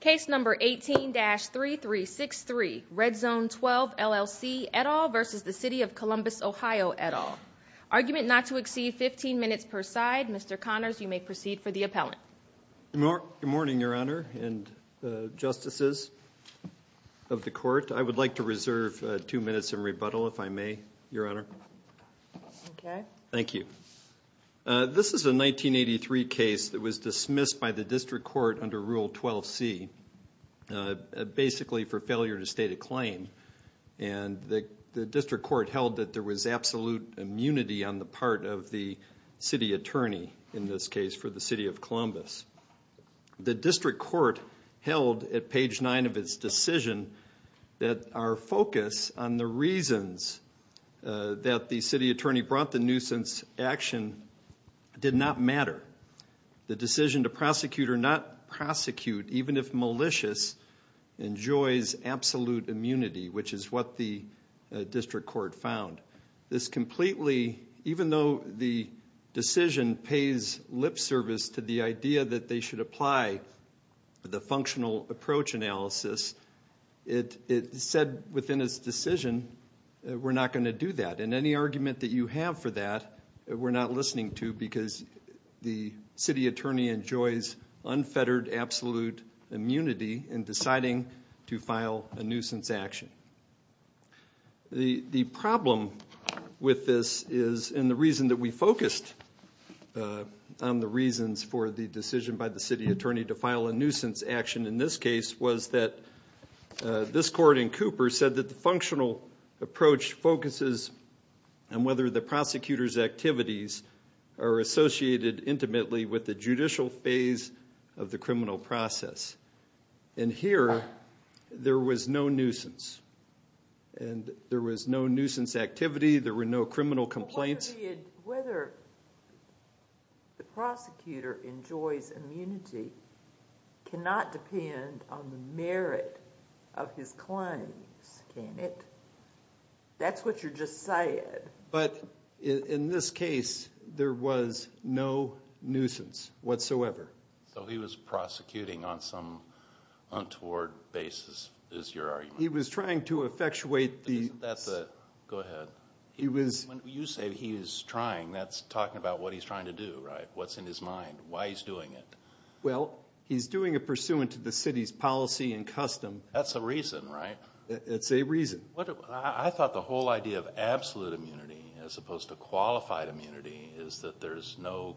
Case number 18-3363, Red Zone 12 LLC et al. v. The City of Columbus Ohio et al. Argument not to exceed 15 minutes per side. Mr. Connors, you may proceed for the appellant. Good morning, Your Honor and Justices of the Court. I would like to reserve two minutes in rebuttal, if I may, Your Honor. Thank you. This is a 1983 case that was dismissed by the District Court under Rule 12c, basically for failure to state a claim. The District Court held that there was absolute immunity on the part of the City Attorney, in this case for the City of Columbus. The District Court held at page 9 of its decision that our focus on the reasons that the City Attorney brought the nuisance action did not matter. The decision to prosecute or not prosecute, even if malicious, enjoys absolute immunity, which is what the District Court found. This completely, even though the decision pays lip service to the idea that they should apply the functional approach analysis, it said within its decision that we're not going to do that. Any argument that you have for that, we're not listening to because the City Attorney enjoys unfettered absolute immunity in deciding to file a nuisance action. The problem with this is, and the reason that we focused on the reasons for the decision by the City Attorney to file a nuisance action in this case, was that this court in Cooper said that the functional approach focuses on whether the prosecutor's activities are associated intimately with the judicial phase of the criminal process. Here, there was no nuisance. There was no nuisance activity. There were no criminal complaints. Whether the prosecutor enjoys immunity cannot depend on the merit of his claims, can it? That's what you're just saying. But in this case, there was no nuisance whatsoever. So he was prosecuting on some untoward basis, is your argument. He was trying to effectuate the... Go ahead. When you say he was trying, that's talking about what he's trying to do, right? What's in his mind? Why he's doing it? Well, he's doing it pursuant to the City's policy and custom. That's a reason, right? It's a reason. I thought the whole idea of absolute immunity as opposed to qualified immunity is that there's no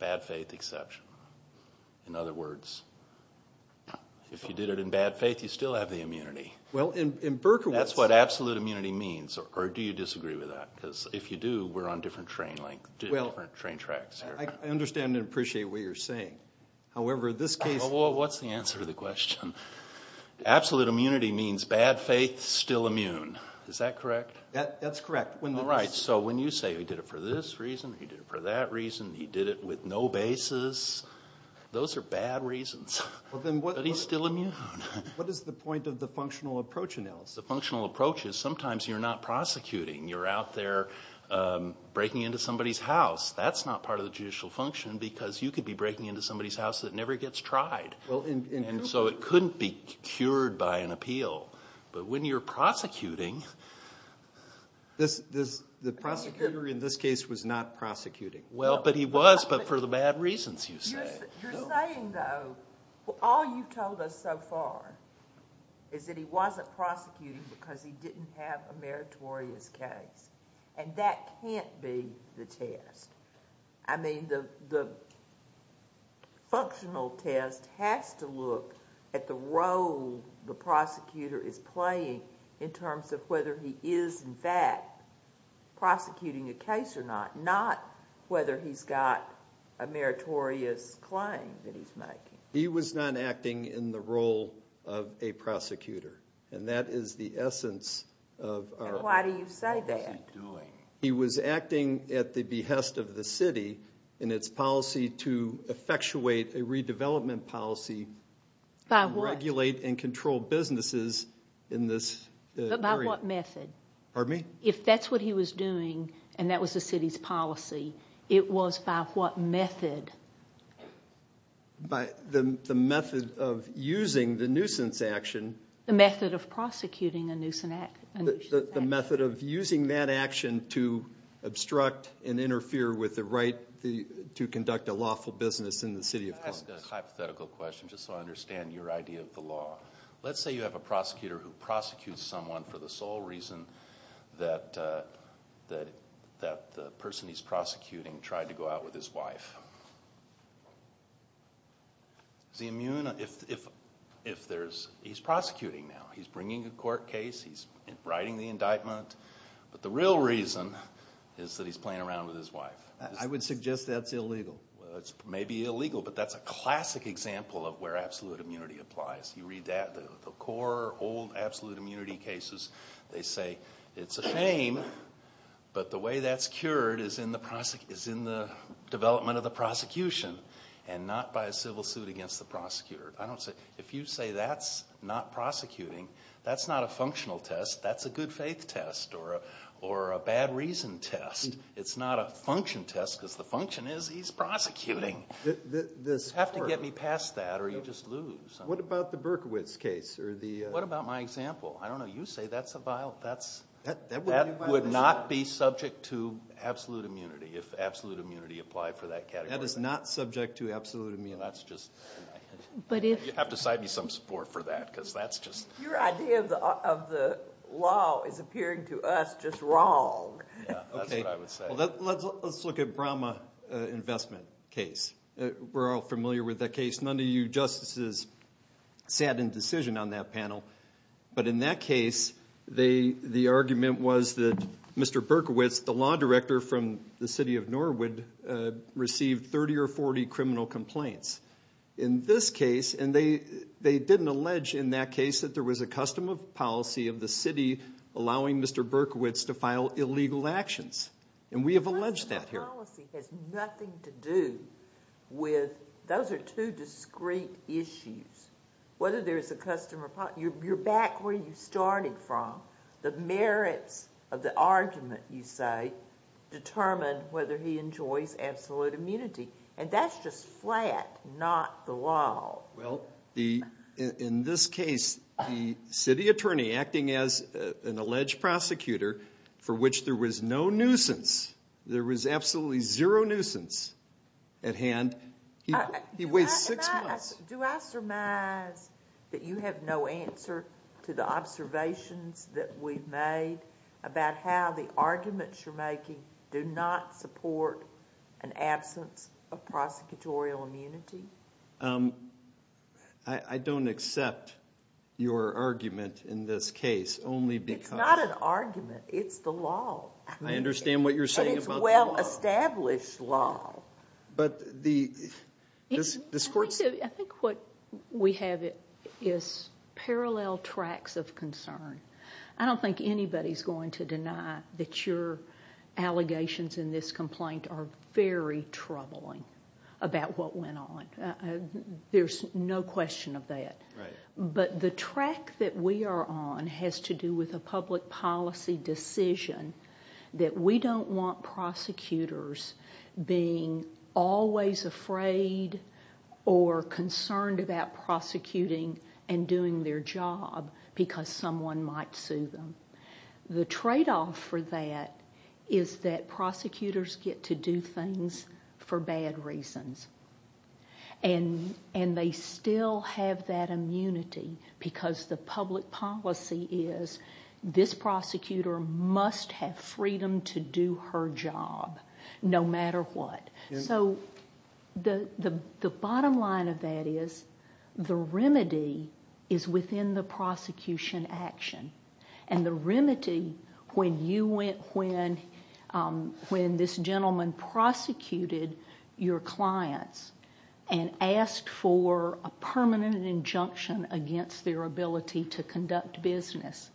bad faith exception. That's what absolute immunity means. Or do you disagree with that? Because if you do, we're on different train tracks here. I understand and appreciate what you're saying. However, this case... Well, what's the answer to the question? Absolute immunity means bad faith, still immune. Is that correct? That's correct. All right. So when you say he did it for this reason, he did it for that reason, he did it with no basis, those are bad reasons. But he's still immune. What is the point of the functional approach analysis? The functional approach is sometimes you're not prosecuting. You're out there breaking into somebody's house. That's not part of the judicial function because you could be breaking into somebody's house that never gets tried. And so it couldn't be cured by an appeal. But when you're prosecuting... The prosecutor in this case was not prosecuting. Well, but he was, but for the bad reasons, you say. You're saying, though, all you've told us so far is that he wasn't prosecuting because he didn't have a meritorious case. And that can't be the test. I mean, the functional test has to look at the role the prosecutor is playing in terms of whether he is, in fact, prosecuting a case or not, not whether he's got a meritorious claim that he's making. He was not acting in the role of a prosecutor. And that is the essence of our... And why do you say that? He was acting at the behest of the city in its policy to effectuate a redevelopment policy... By what? ...regulate and control businesses in this area. But by what method? Pardon me? If that's what he was doing and that was the city's policy, it was by what method? By the method of using the nuisance action. The method of prosecuting a nuisance action. The method of using that action to obstruct and interfere with the right to conduct a lawful business in the city of Columbus. Can I ask a hypothetical question just so I understand your idea of the law? Let's say you have a prosecutor who prosecutes someone for the sole reason that the person he's prosecuting tried to go out with his wife. Is he immune? He's prosecuting now. He's bringing a court case. He's writing the indictment. But the real reason is that he's playing around with his wife. I would suggest that's illegal. It may be illegal, but that's a classic example of where absolute immunity applies. You read the core old absolute immunity cases. They say it's a shame, but the way that's cured is in the development of the prosecution and not by a civil suit against the prosecutor. If you say that's not prosecuting, that's not a functional test. That's a good faith test or a bad reason test. It's not a function test because the function is he's prosecuting. You have to get me past that or you just lose. What about the Berkowitz case? What about my example? I don't know. You say that's a violation. That would not be subject to absolute immunity if absolute immunity applied for that category. That is not subject to absolute immunity. You have to cite me some support for that because that's just— Your idea of the law is appearing to us just wrong. That's what I would say. Let's look at the Brahma investment case. We're all familiar with that case. None of you justices sat in decision on that panel. But in that case, the argument was that Mr. Berkowitz, the law director from the city of Norwood, received 30 or 40 criminal complaints. In this case, and they didn't allege in that case that there was a custom of policy of the city allowing Mr. Berkowitz to file illegal actions, and we have alleged that here. Custom of policy has nothing to do with—those are two discrete issues. Whether there's a custom of policy—you're back where you started from. The merits of the argument, you say, determine whether he enjoys absolute immunity. And that's just flat, not the law. Well, in this case, the city attorney acting as an alleged prosecutor for which there was no nuisance, there was absolutely zero nuisance at hand, he waits six months. Do I surmise that you have no answer to the observations that we've made about how the arguments you're making do not support an absence of prosecutorial immunity? I don't accept your argument in this case only because— It's not an argument. It's the law. I understand what you're saying about the law. And it's well-established law. But the—this court— I think what we have is parallel tracks of concern. I don't think anybody's going to deny that your allegations in this complaint are very troubling about what went on. There's no question of that. But the track that we are on has to do with a public policy decision that we don't want prosecutors being always afraid or concerned about prosecuting and doing their job because someone might sue them. The tradeoff for that is that prosecutors get to do things for bad reasons. And they still have that immunity because the public policy is this prosecutor must have freedom to do her job no matter what. So the bottom line of that is the remedy is within the prosecution action. And the remedy, when this gentleman prosecuted your clients and asked for a permanent injunction against their ability to conduct business,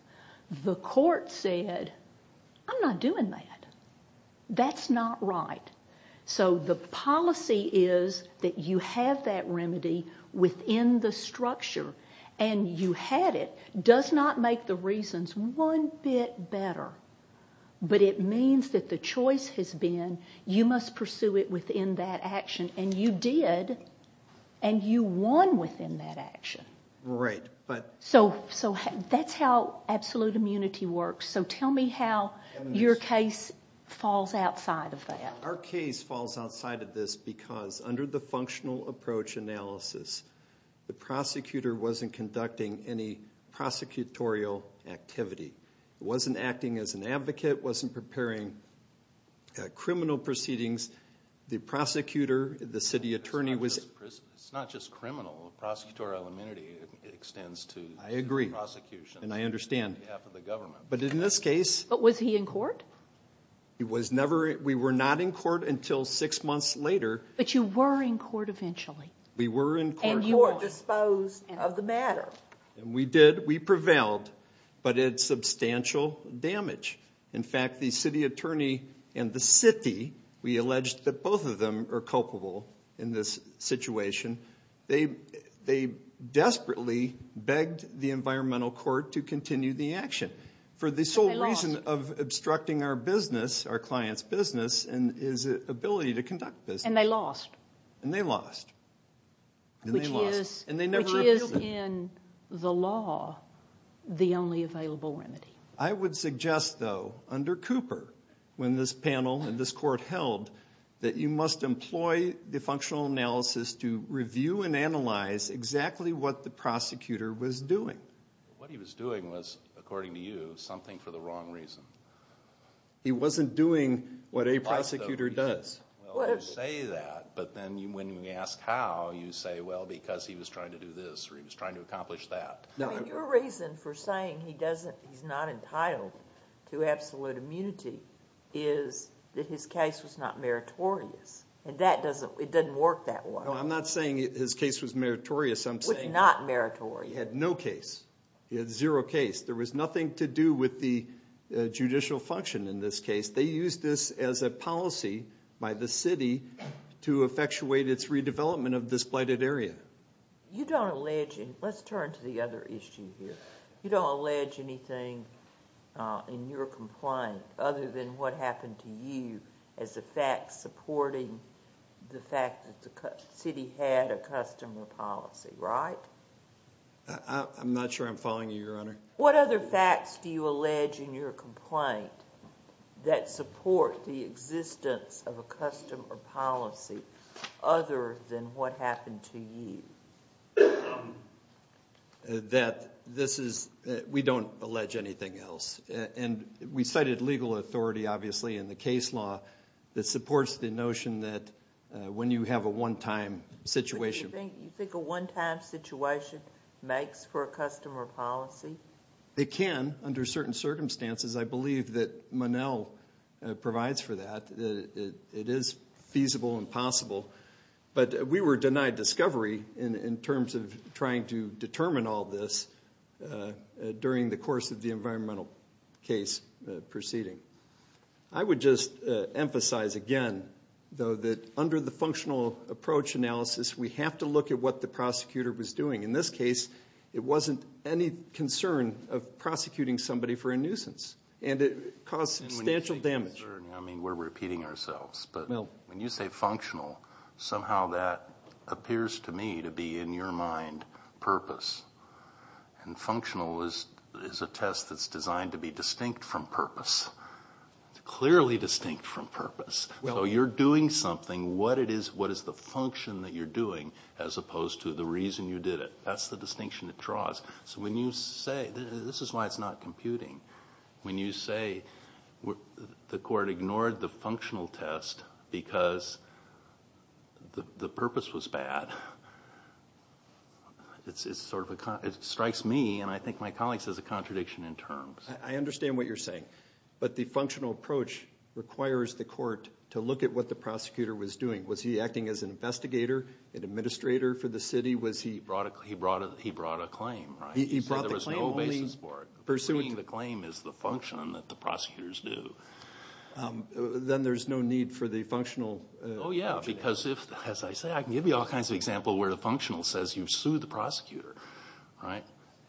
the court said, I'm not doing that. That's not right. So the policy is that you have that remedy within the structure, and you had it, does not make the reasons one bit better. But it means that the choice has been you must pursue it within that action. And you did, and you won within that action. So that's how absolute immunity works. So tell me how your case falls outside of that. Our case falls outside of this because under the functional approach analysis, the prosecutor wasn't conducting any prosecutorial activity. It wasn't acting as an advocate. It wasn't preparing criminal proceedings. The prosecutor, the city attorney was. It's not just criminal. Prosecutorial immunity extends to prosecution. I agree, and I understand. On behalf of the government. But in this case. But was he in court? He was never. We were not in court until six months later. But you were in court eventually. We were in court. And you were disposed of the matter. We did. We prevailed. But it's substantial damage. In fact, the city attorney and the city, we alleged that both of them are culpable in this situation. They desperately begged the environmental court to continue the action. For the sole reason of obstructing our business, our client's business, and his ability to conduct business. And they lost. And they lost. Which is in the law the only available remedy. I would suggest, though, under Cooper, when this panel and this court held, that you must employ the functional analysis to review and analyze exactly what the prosecutor was doing. What he was doing was, according to you, something for the wrong reason. He wasn't doing what a prosecutor does. Well, you say that. But then when you ask how, you say, well, because he was trying to do this or he was trying to accomplish that. Your reason for saying he's not entitled to absolute immunity is that his case was not meritorious. And it doesn't work that way. No, I'm not saying his case was meritorious. It was not meritorious. He had no case. He had zero case. There was nothing to do with the judicial function in this case. They used this as a policy by the city to effectuate its redevelopment of this blighted area. Let's turn to the other issue here. You don't allege anything in your complaint other than what happened to you as a fact supporting the fact that the city had a customer policy, right? I'm not sure I'm following you, Your Honor. What other facts do you allege in your complaint that support the existence of a customer policy other than what happened to you? We don't allege anything else. And we cited legal authority, obviously, in the case law that supports the notion that when you have a one-time situation. Do you think a one-time situation makes for a customer policy? It can under certain circumstances. I believe that Monell provides for that. It is feasible and possible. But we were denied discovery in terms of trying to determine all this during the course of the environmental case proceeding. I would just emphasize again, though, that under the functional approach analysis, we have to look at what the prosecutor was doing. In this case, it wasn't any concern of prosecuting somebody for a nuisance. And it caused substantial damage. I mean, we're repeating ourselves. But when you say functional, somehow that appears to me to be, in your mind, purpose. And functional is a test that's designed to be distinct from purpose, clearly distinct from purpose. So you're doing something, what is the function that you're doing as opposed to the reason you did it? That's the distinction it draws. So when you say, this is why it's not computing, when you say the court ignored the functional test because the purpose was bad, it strikes me, and I think my colleagues, as a contradiction in terms. I understand what you're saying. But the functional approach requires the court to look at what the prosecutor was doing. Was he acting as an investigator, an administrator for the city? He brought a claim, right? He said there was no basis for it. Pursuing the claim is the function that the prosecutors do. Then there's no need for the functional. Oh, yeah, because as I say, I can give you all kinds of examples where the functional says you've sued the prosecutor.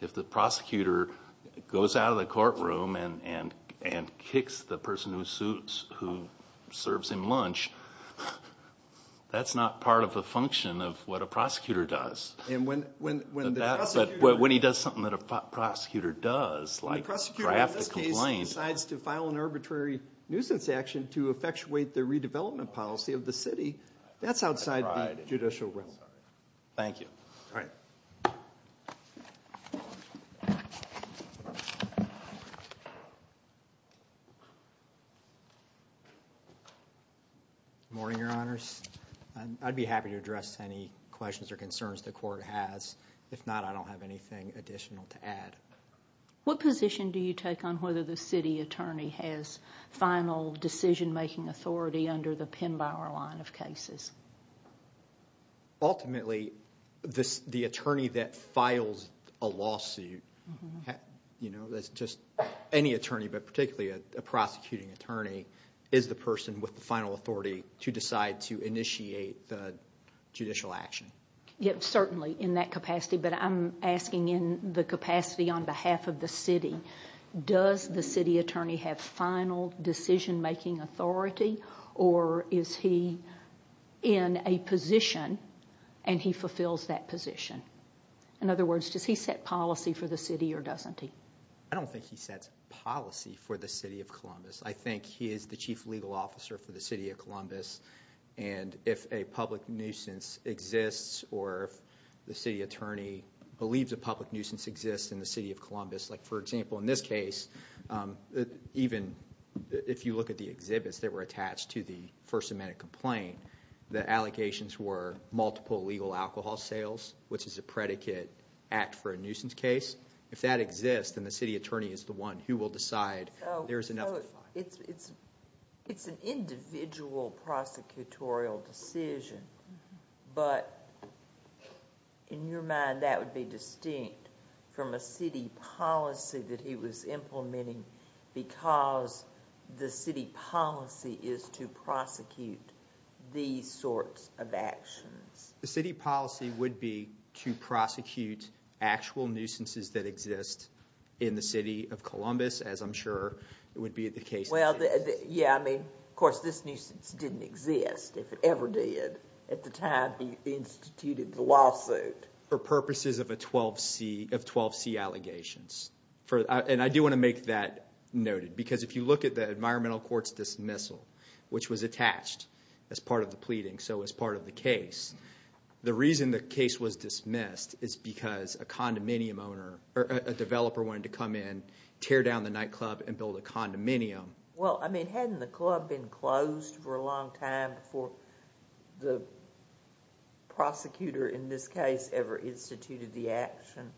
If the prosecutor goes out of the courtroom and kicks the person who serves him lunch, that's not part of the function of what a prosecutor does. But when he does something that a prosecutor does, like draft a complaint. When the prosecutor in this case decides to file an arbitrary nuisance action to effectuate the redevelopment policy of the city, that's outside the judicial realm. Thank you. All right. Good morning, Your Honors. I'd be happy to address any questions or concerns the court has. If not, I don't have anything additional to add. What position do you take on whether the city attorney has final decision-making authority under the Pinbauer line of cases? Ultimately, the attorney that files a lawsuit, that's just any attorney, but particularly a prosecuting attorney, is the person with the final authority to decide to initiate the judicial action. Yes, certainly in that capacity. But I'm asking in the capacity on behalf of the city, does the city attorney have final decision-making authority or is he in a position and he fulfills that position? In other words, does he set policy for the city or doesn't he? I don't think he sets policy for the city of Columbus. I think he is the chief legal officer for the city of Columbus. And if a public nuisance exists or if the city attorney believes a public nuisance exists in the city of Columbus, like, for example, in this case, even if you look at the exhibits that were attached to the First Amendment complaint, the allegations were multiple illegal alcohol sales, which is a predicate act for a nuisance case. If that exists, then the city attorney is the one who will decide there is enough to file. It's an individual prosecutorial decision. But in your mind, that would be distinct from a city policy that he was implementing because the city policy is to prosecute these sorts of actions. The city policy would be to prosecute actual nuisances that exist in the city of Columbus, as I'm sure it would be the case in this case. Well, yeah, I mean, of course, this nuisance didn't exist, if it ever did. For purposes of 12C allegations. And I do want to make that noted. Because if you look at the environmental court's dismissal, which was attached as part of the pleading, so as part of the case, the reason the case was dismissed is because a condominium owner, or a developer wanted to come in, tear down the nightclub, and build a condominium. Well, I mean, hadn't the club been closed for a long time before the prosecutor, in this case, ever instituted the action?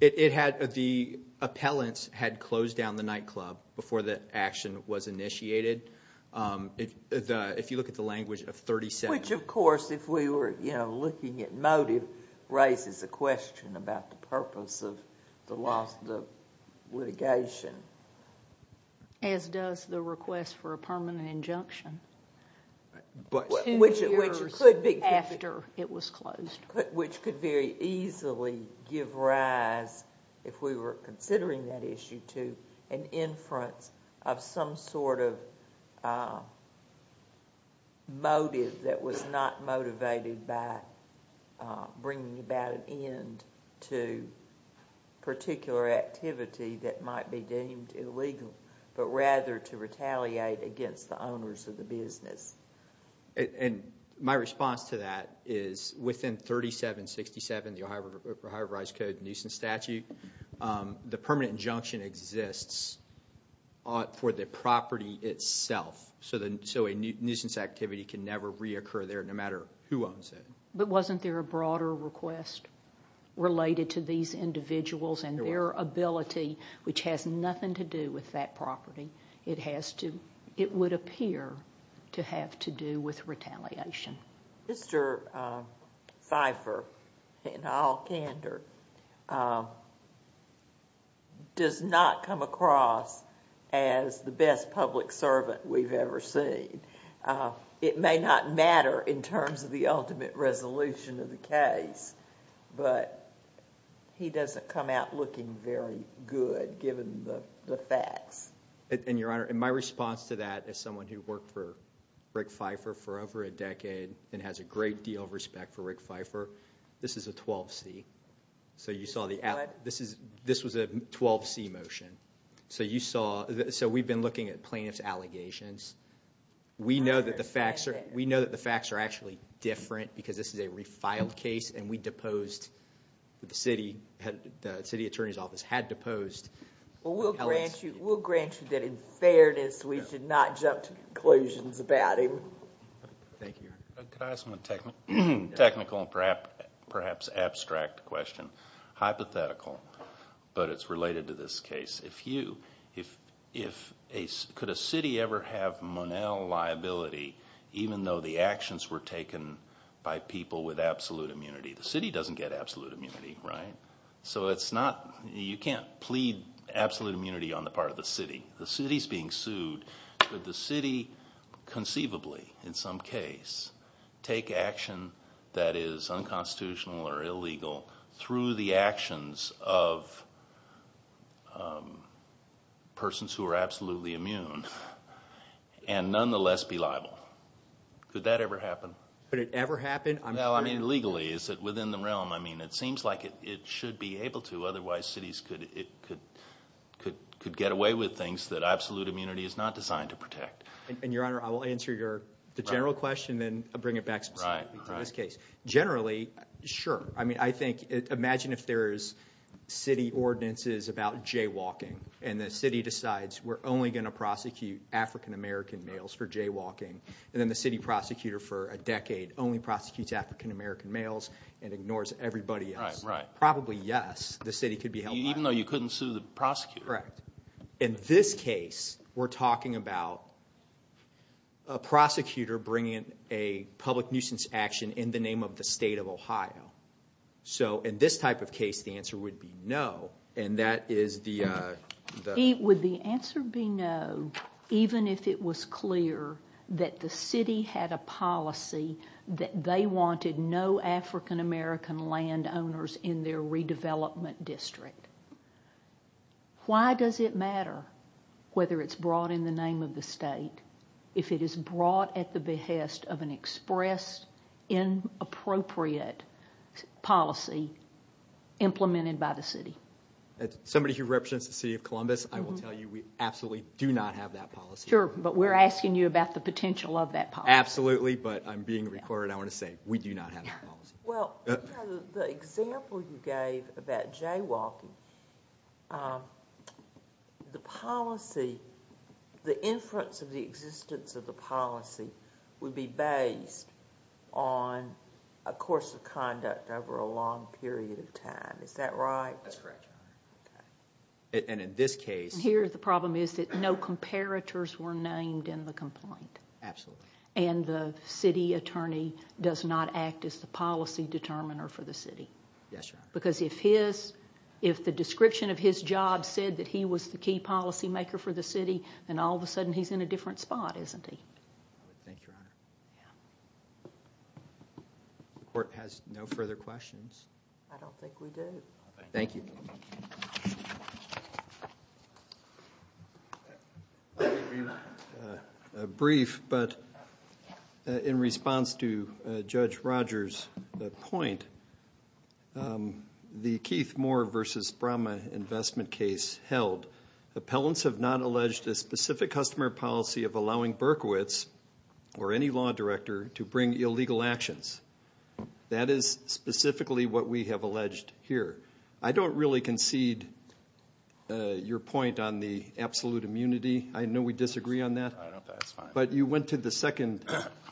The appellants had closed down the nightclub before the action was initiated. If you look at the language of 37— Which, of course, if we were looking at motive, raises a question about the purpose of the litigation. As does the request for a permanent injunction. Two years after it was closed. Which could very easily give rise, if we were considering that issue, to an inference of some sort of motive that was not motivated by bringing about an end to particular activity that might be deemed illegal, but rather to retaliate against the owners of the business. And my response to that is, within 3767, the Ohio Rise Code nuisance statute, the permanent injunction exists for the property itself. So a nuisance activity can never reoccur there, no matter who owns it. But wasn't there a broader request related to these individuals and their ability, which has nothing to do with that property? It would appear to have to do with retaliation. Mr. Pfeiffer, in all candor, does not come across as the best public servant we've ever seen. It may not matter in terms of the ultimate resolution of the case, but he doesn't come out looking very good, given the facts. And, Your Honor, in my response to that, as someone who worked for Rick Pfeiffer for over a decade and has a great deal of respect for Rick Pfeiffer, this is a 12C. This was a 12C motion. So we've been looking at plaintiff's allegations. We know that the facts are actually different, because this is a refiled case, and the city attorney's office had deposed... We'll grant you that, in fairness, we did not jump to conclusions about him. Thank you, Your Honor. Could I ask a technical and perhaps abstract question? Hypothetical, but it's related to this case. Could a city ever have Monell liability, even though the actions were taken by people with absolute immunity? The city doesn't get absolute immunity, right? So you can't plead absolute immunity on the part of the city. The city's being sued. Could the city conceivably, in some case, take action that is unconstitutional or illegal through the actions of persons who are absolutely immune and nonetheless be liable? Could that ever happen? Could it ever happen? Well, I mean, legally, is it within the realm? I mean, it seems like it should be able to. Otherwise, cities could get away with things that absolute immunity is not designed to protect. And, Your Honor, I will answer the general question and then bring it back specifically to this case. Generally, sure. I mean, I think imagine if there's city ordinances about jaywalking and the city decides we're only going to prosecute African-American males for jaywalking and then the city prosecutor for a decade only prosecutes African-American males and ignores everybody else. Right, right. Probably, yes. The city could be held liable. Even though you couldn't sue the prosecutor? Correct. In this case, we're talking about a prosecutor bringing a public nuisance action in the name of the state of Ohio. So, in this type of case, the answer would be no. And that is the... Would the answer be no, even if it was clear that the city had a policy that they wanted no African-American landowners in their redevelopment district? Why does it matter whether it's brought in the name of the state if it is brought at the behest of an express, inappropriate policy implemented by the city? As somebody who represents the city of Columbus, I will tell you we absolutely do not have that policy. Sure, but we're asking you about the potential of that policy. Absolutely, but I'm being recorded. I want to say we do not have that policy. Well, the example you gave about jaywalking, the policy, the inference of the existence of the policy would be based on a course of conduct over a long period of time. Is that right? That's correct, Your Honor. And in this case... Here, the problem is that no comparators were named in the complaint. Absolutely. And the city attorney does not act as the policy determiner for the city. Yes, Your Honor. Because if the description of his job said that he was the key policymaker for the city, then all of a sudden he's in a different spot, isn't he? I would think, Your Honor. The court has no further questions. I don't think we do. Thank you. Thank you, Your Honor. A brief, but in response to Judge Rogers' point, the Keith Moore v. Brahma investment case held, appellants have not alleged a specific customer policy of allowing Berkowitz or any law director to bring illegal actions. That is specifically what we have alleged here. I don't really concede your point on the absolute immunity. I know we disagree on that. That's fine. But you went to the second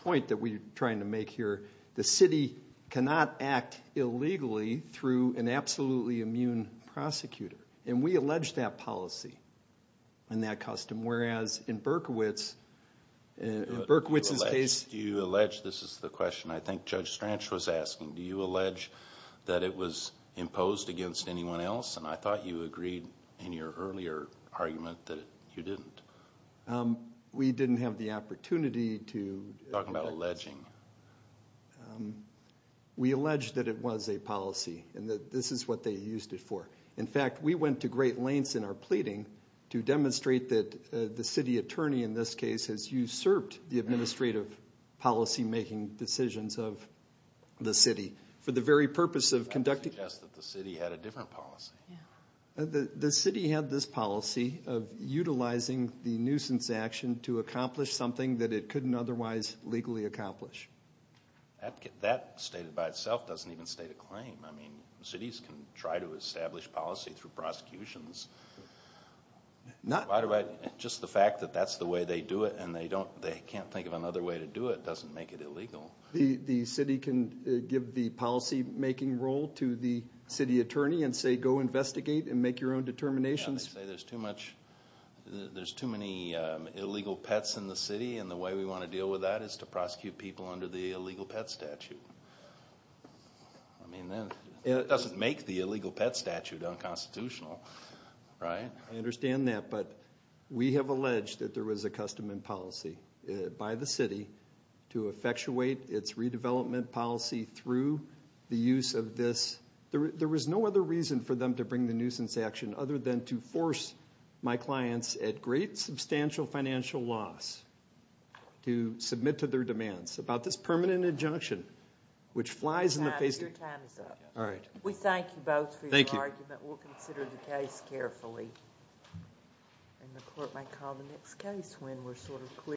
point that we're trying to make here. The city cannot act illegally through an absolutely immune prosecutor, and we allege that policy and that custom, whereas in Berkowitz's case... Do you allege? This is the question I think Judge Stranch was asking. Do you allege that it was imposed against anyone else? And I thought you agreed in your earlier argument that you didn't. We didn't have the opportunity to... Talk about alleging. We allege that it was a policy and that this is what they used it for. In fact, we went to great lengths in our pleading to demonstrate that the city attorney in this case has usurped the administrative policy-making decisions of the city for the very purpose of conducting... I would suggest that the city had a different policy. The city had this policy of utilizing the nuisance action to accomplish something that it couldn't otherwise legally accomplish. That stated by itself doesn't even state a claim. Cities can try to establish policy through prosecutions. Just the fact that that's the way they do it and they can't think of another way to do it doesn't make it illegal. The city can give the policy-making role to the city attorney and say go investigate and make your own determinations? Yeah, they say there's too many illegal pets in the city and the way we want to deal with that is to prosecute people under the illegal pet statute. I mean, that doesn't make the illegal pet statute unconstitutional, right? I understand that, but we have alleged that there was a custom and policy by the city to effectuate its redevelopment policy through the use of this. There was no other reason for them to bring the nuisance action other than to force my clients at great substantial financial loss to submit to their demands about this permanent injunction which flies in the face of... Your time is up. All right. We thank you both for your argument. Thank you. We'll consider the case carefully.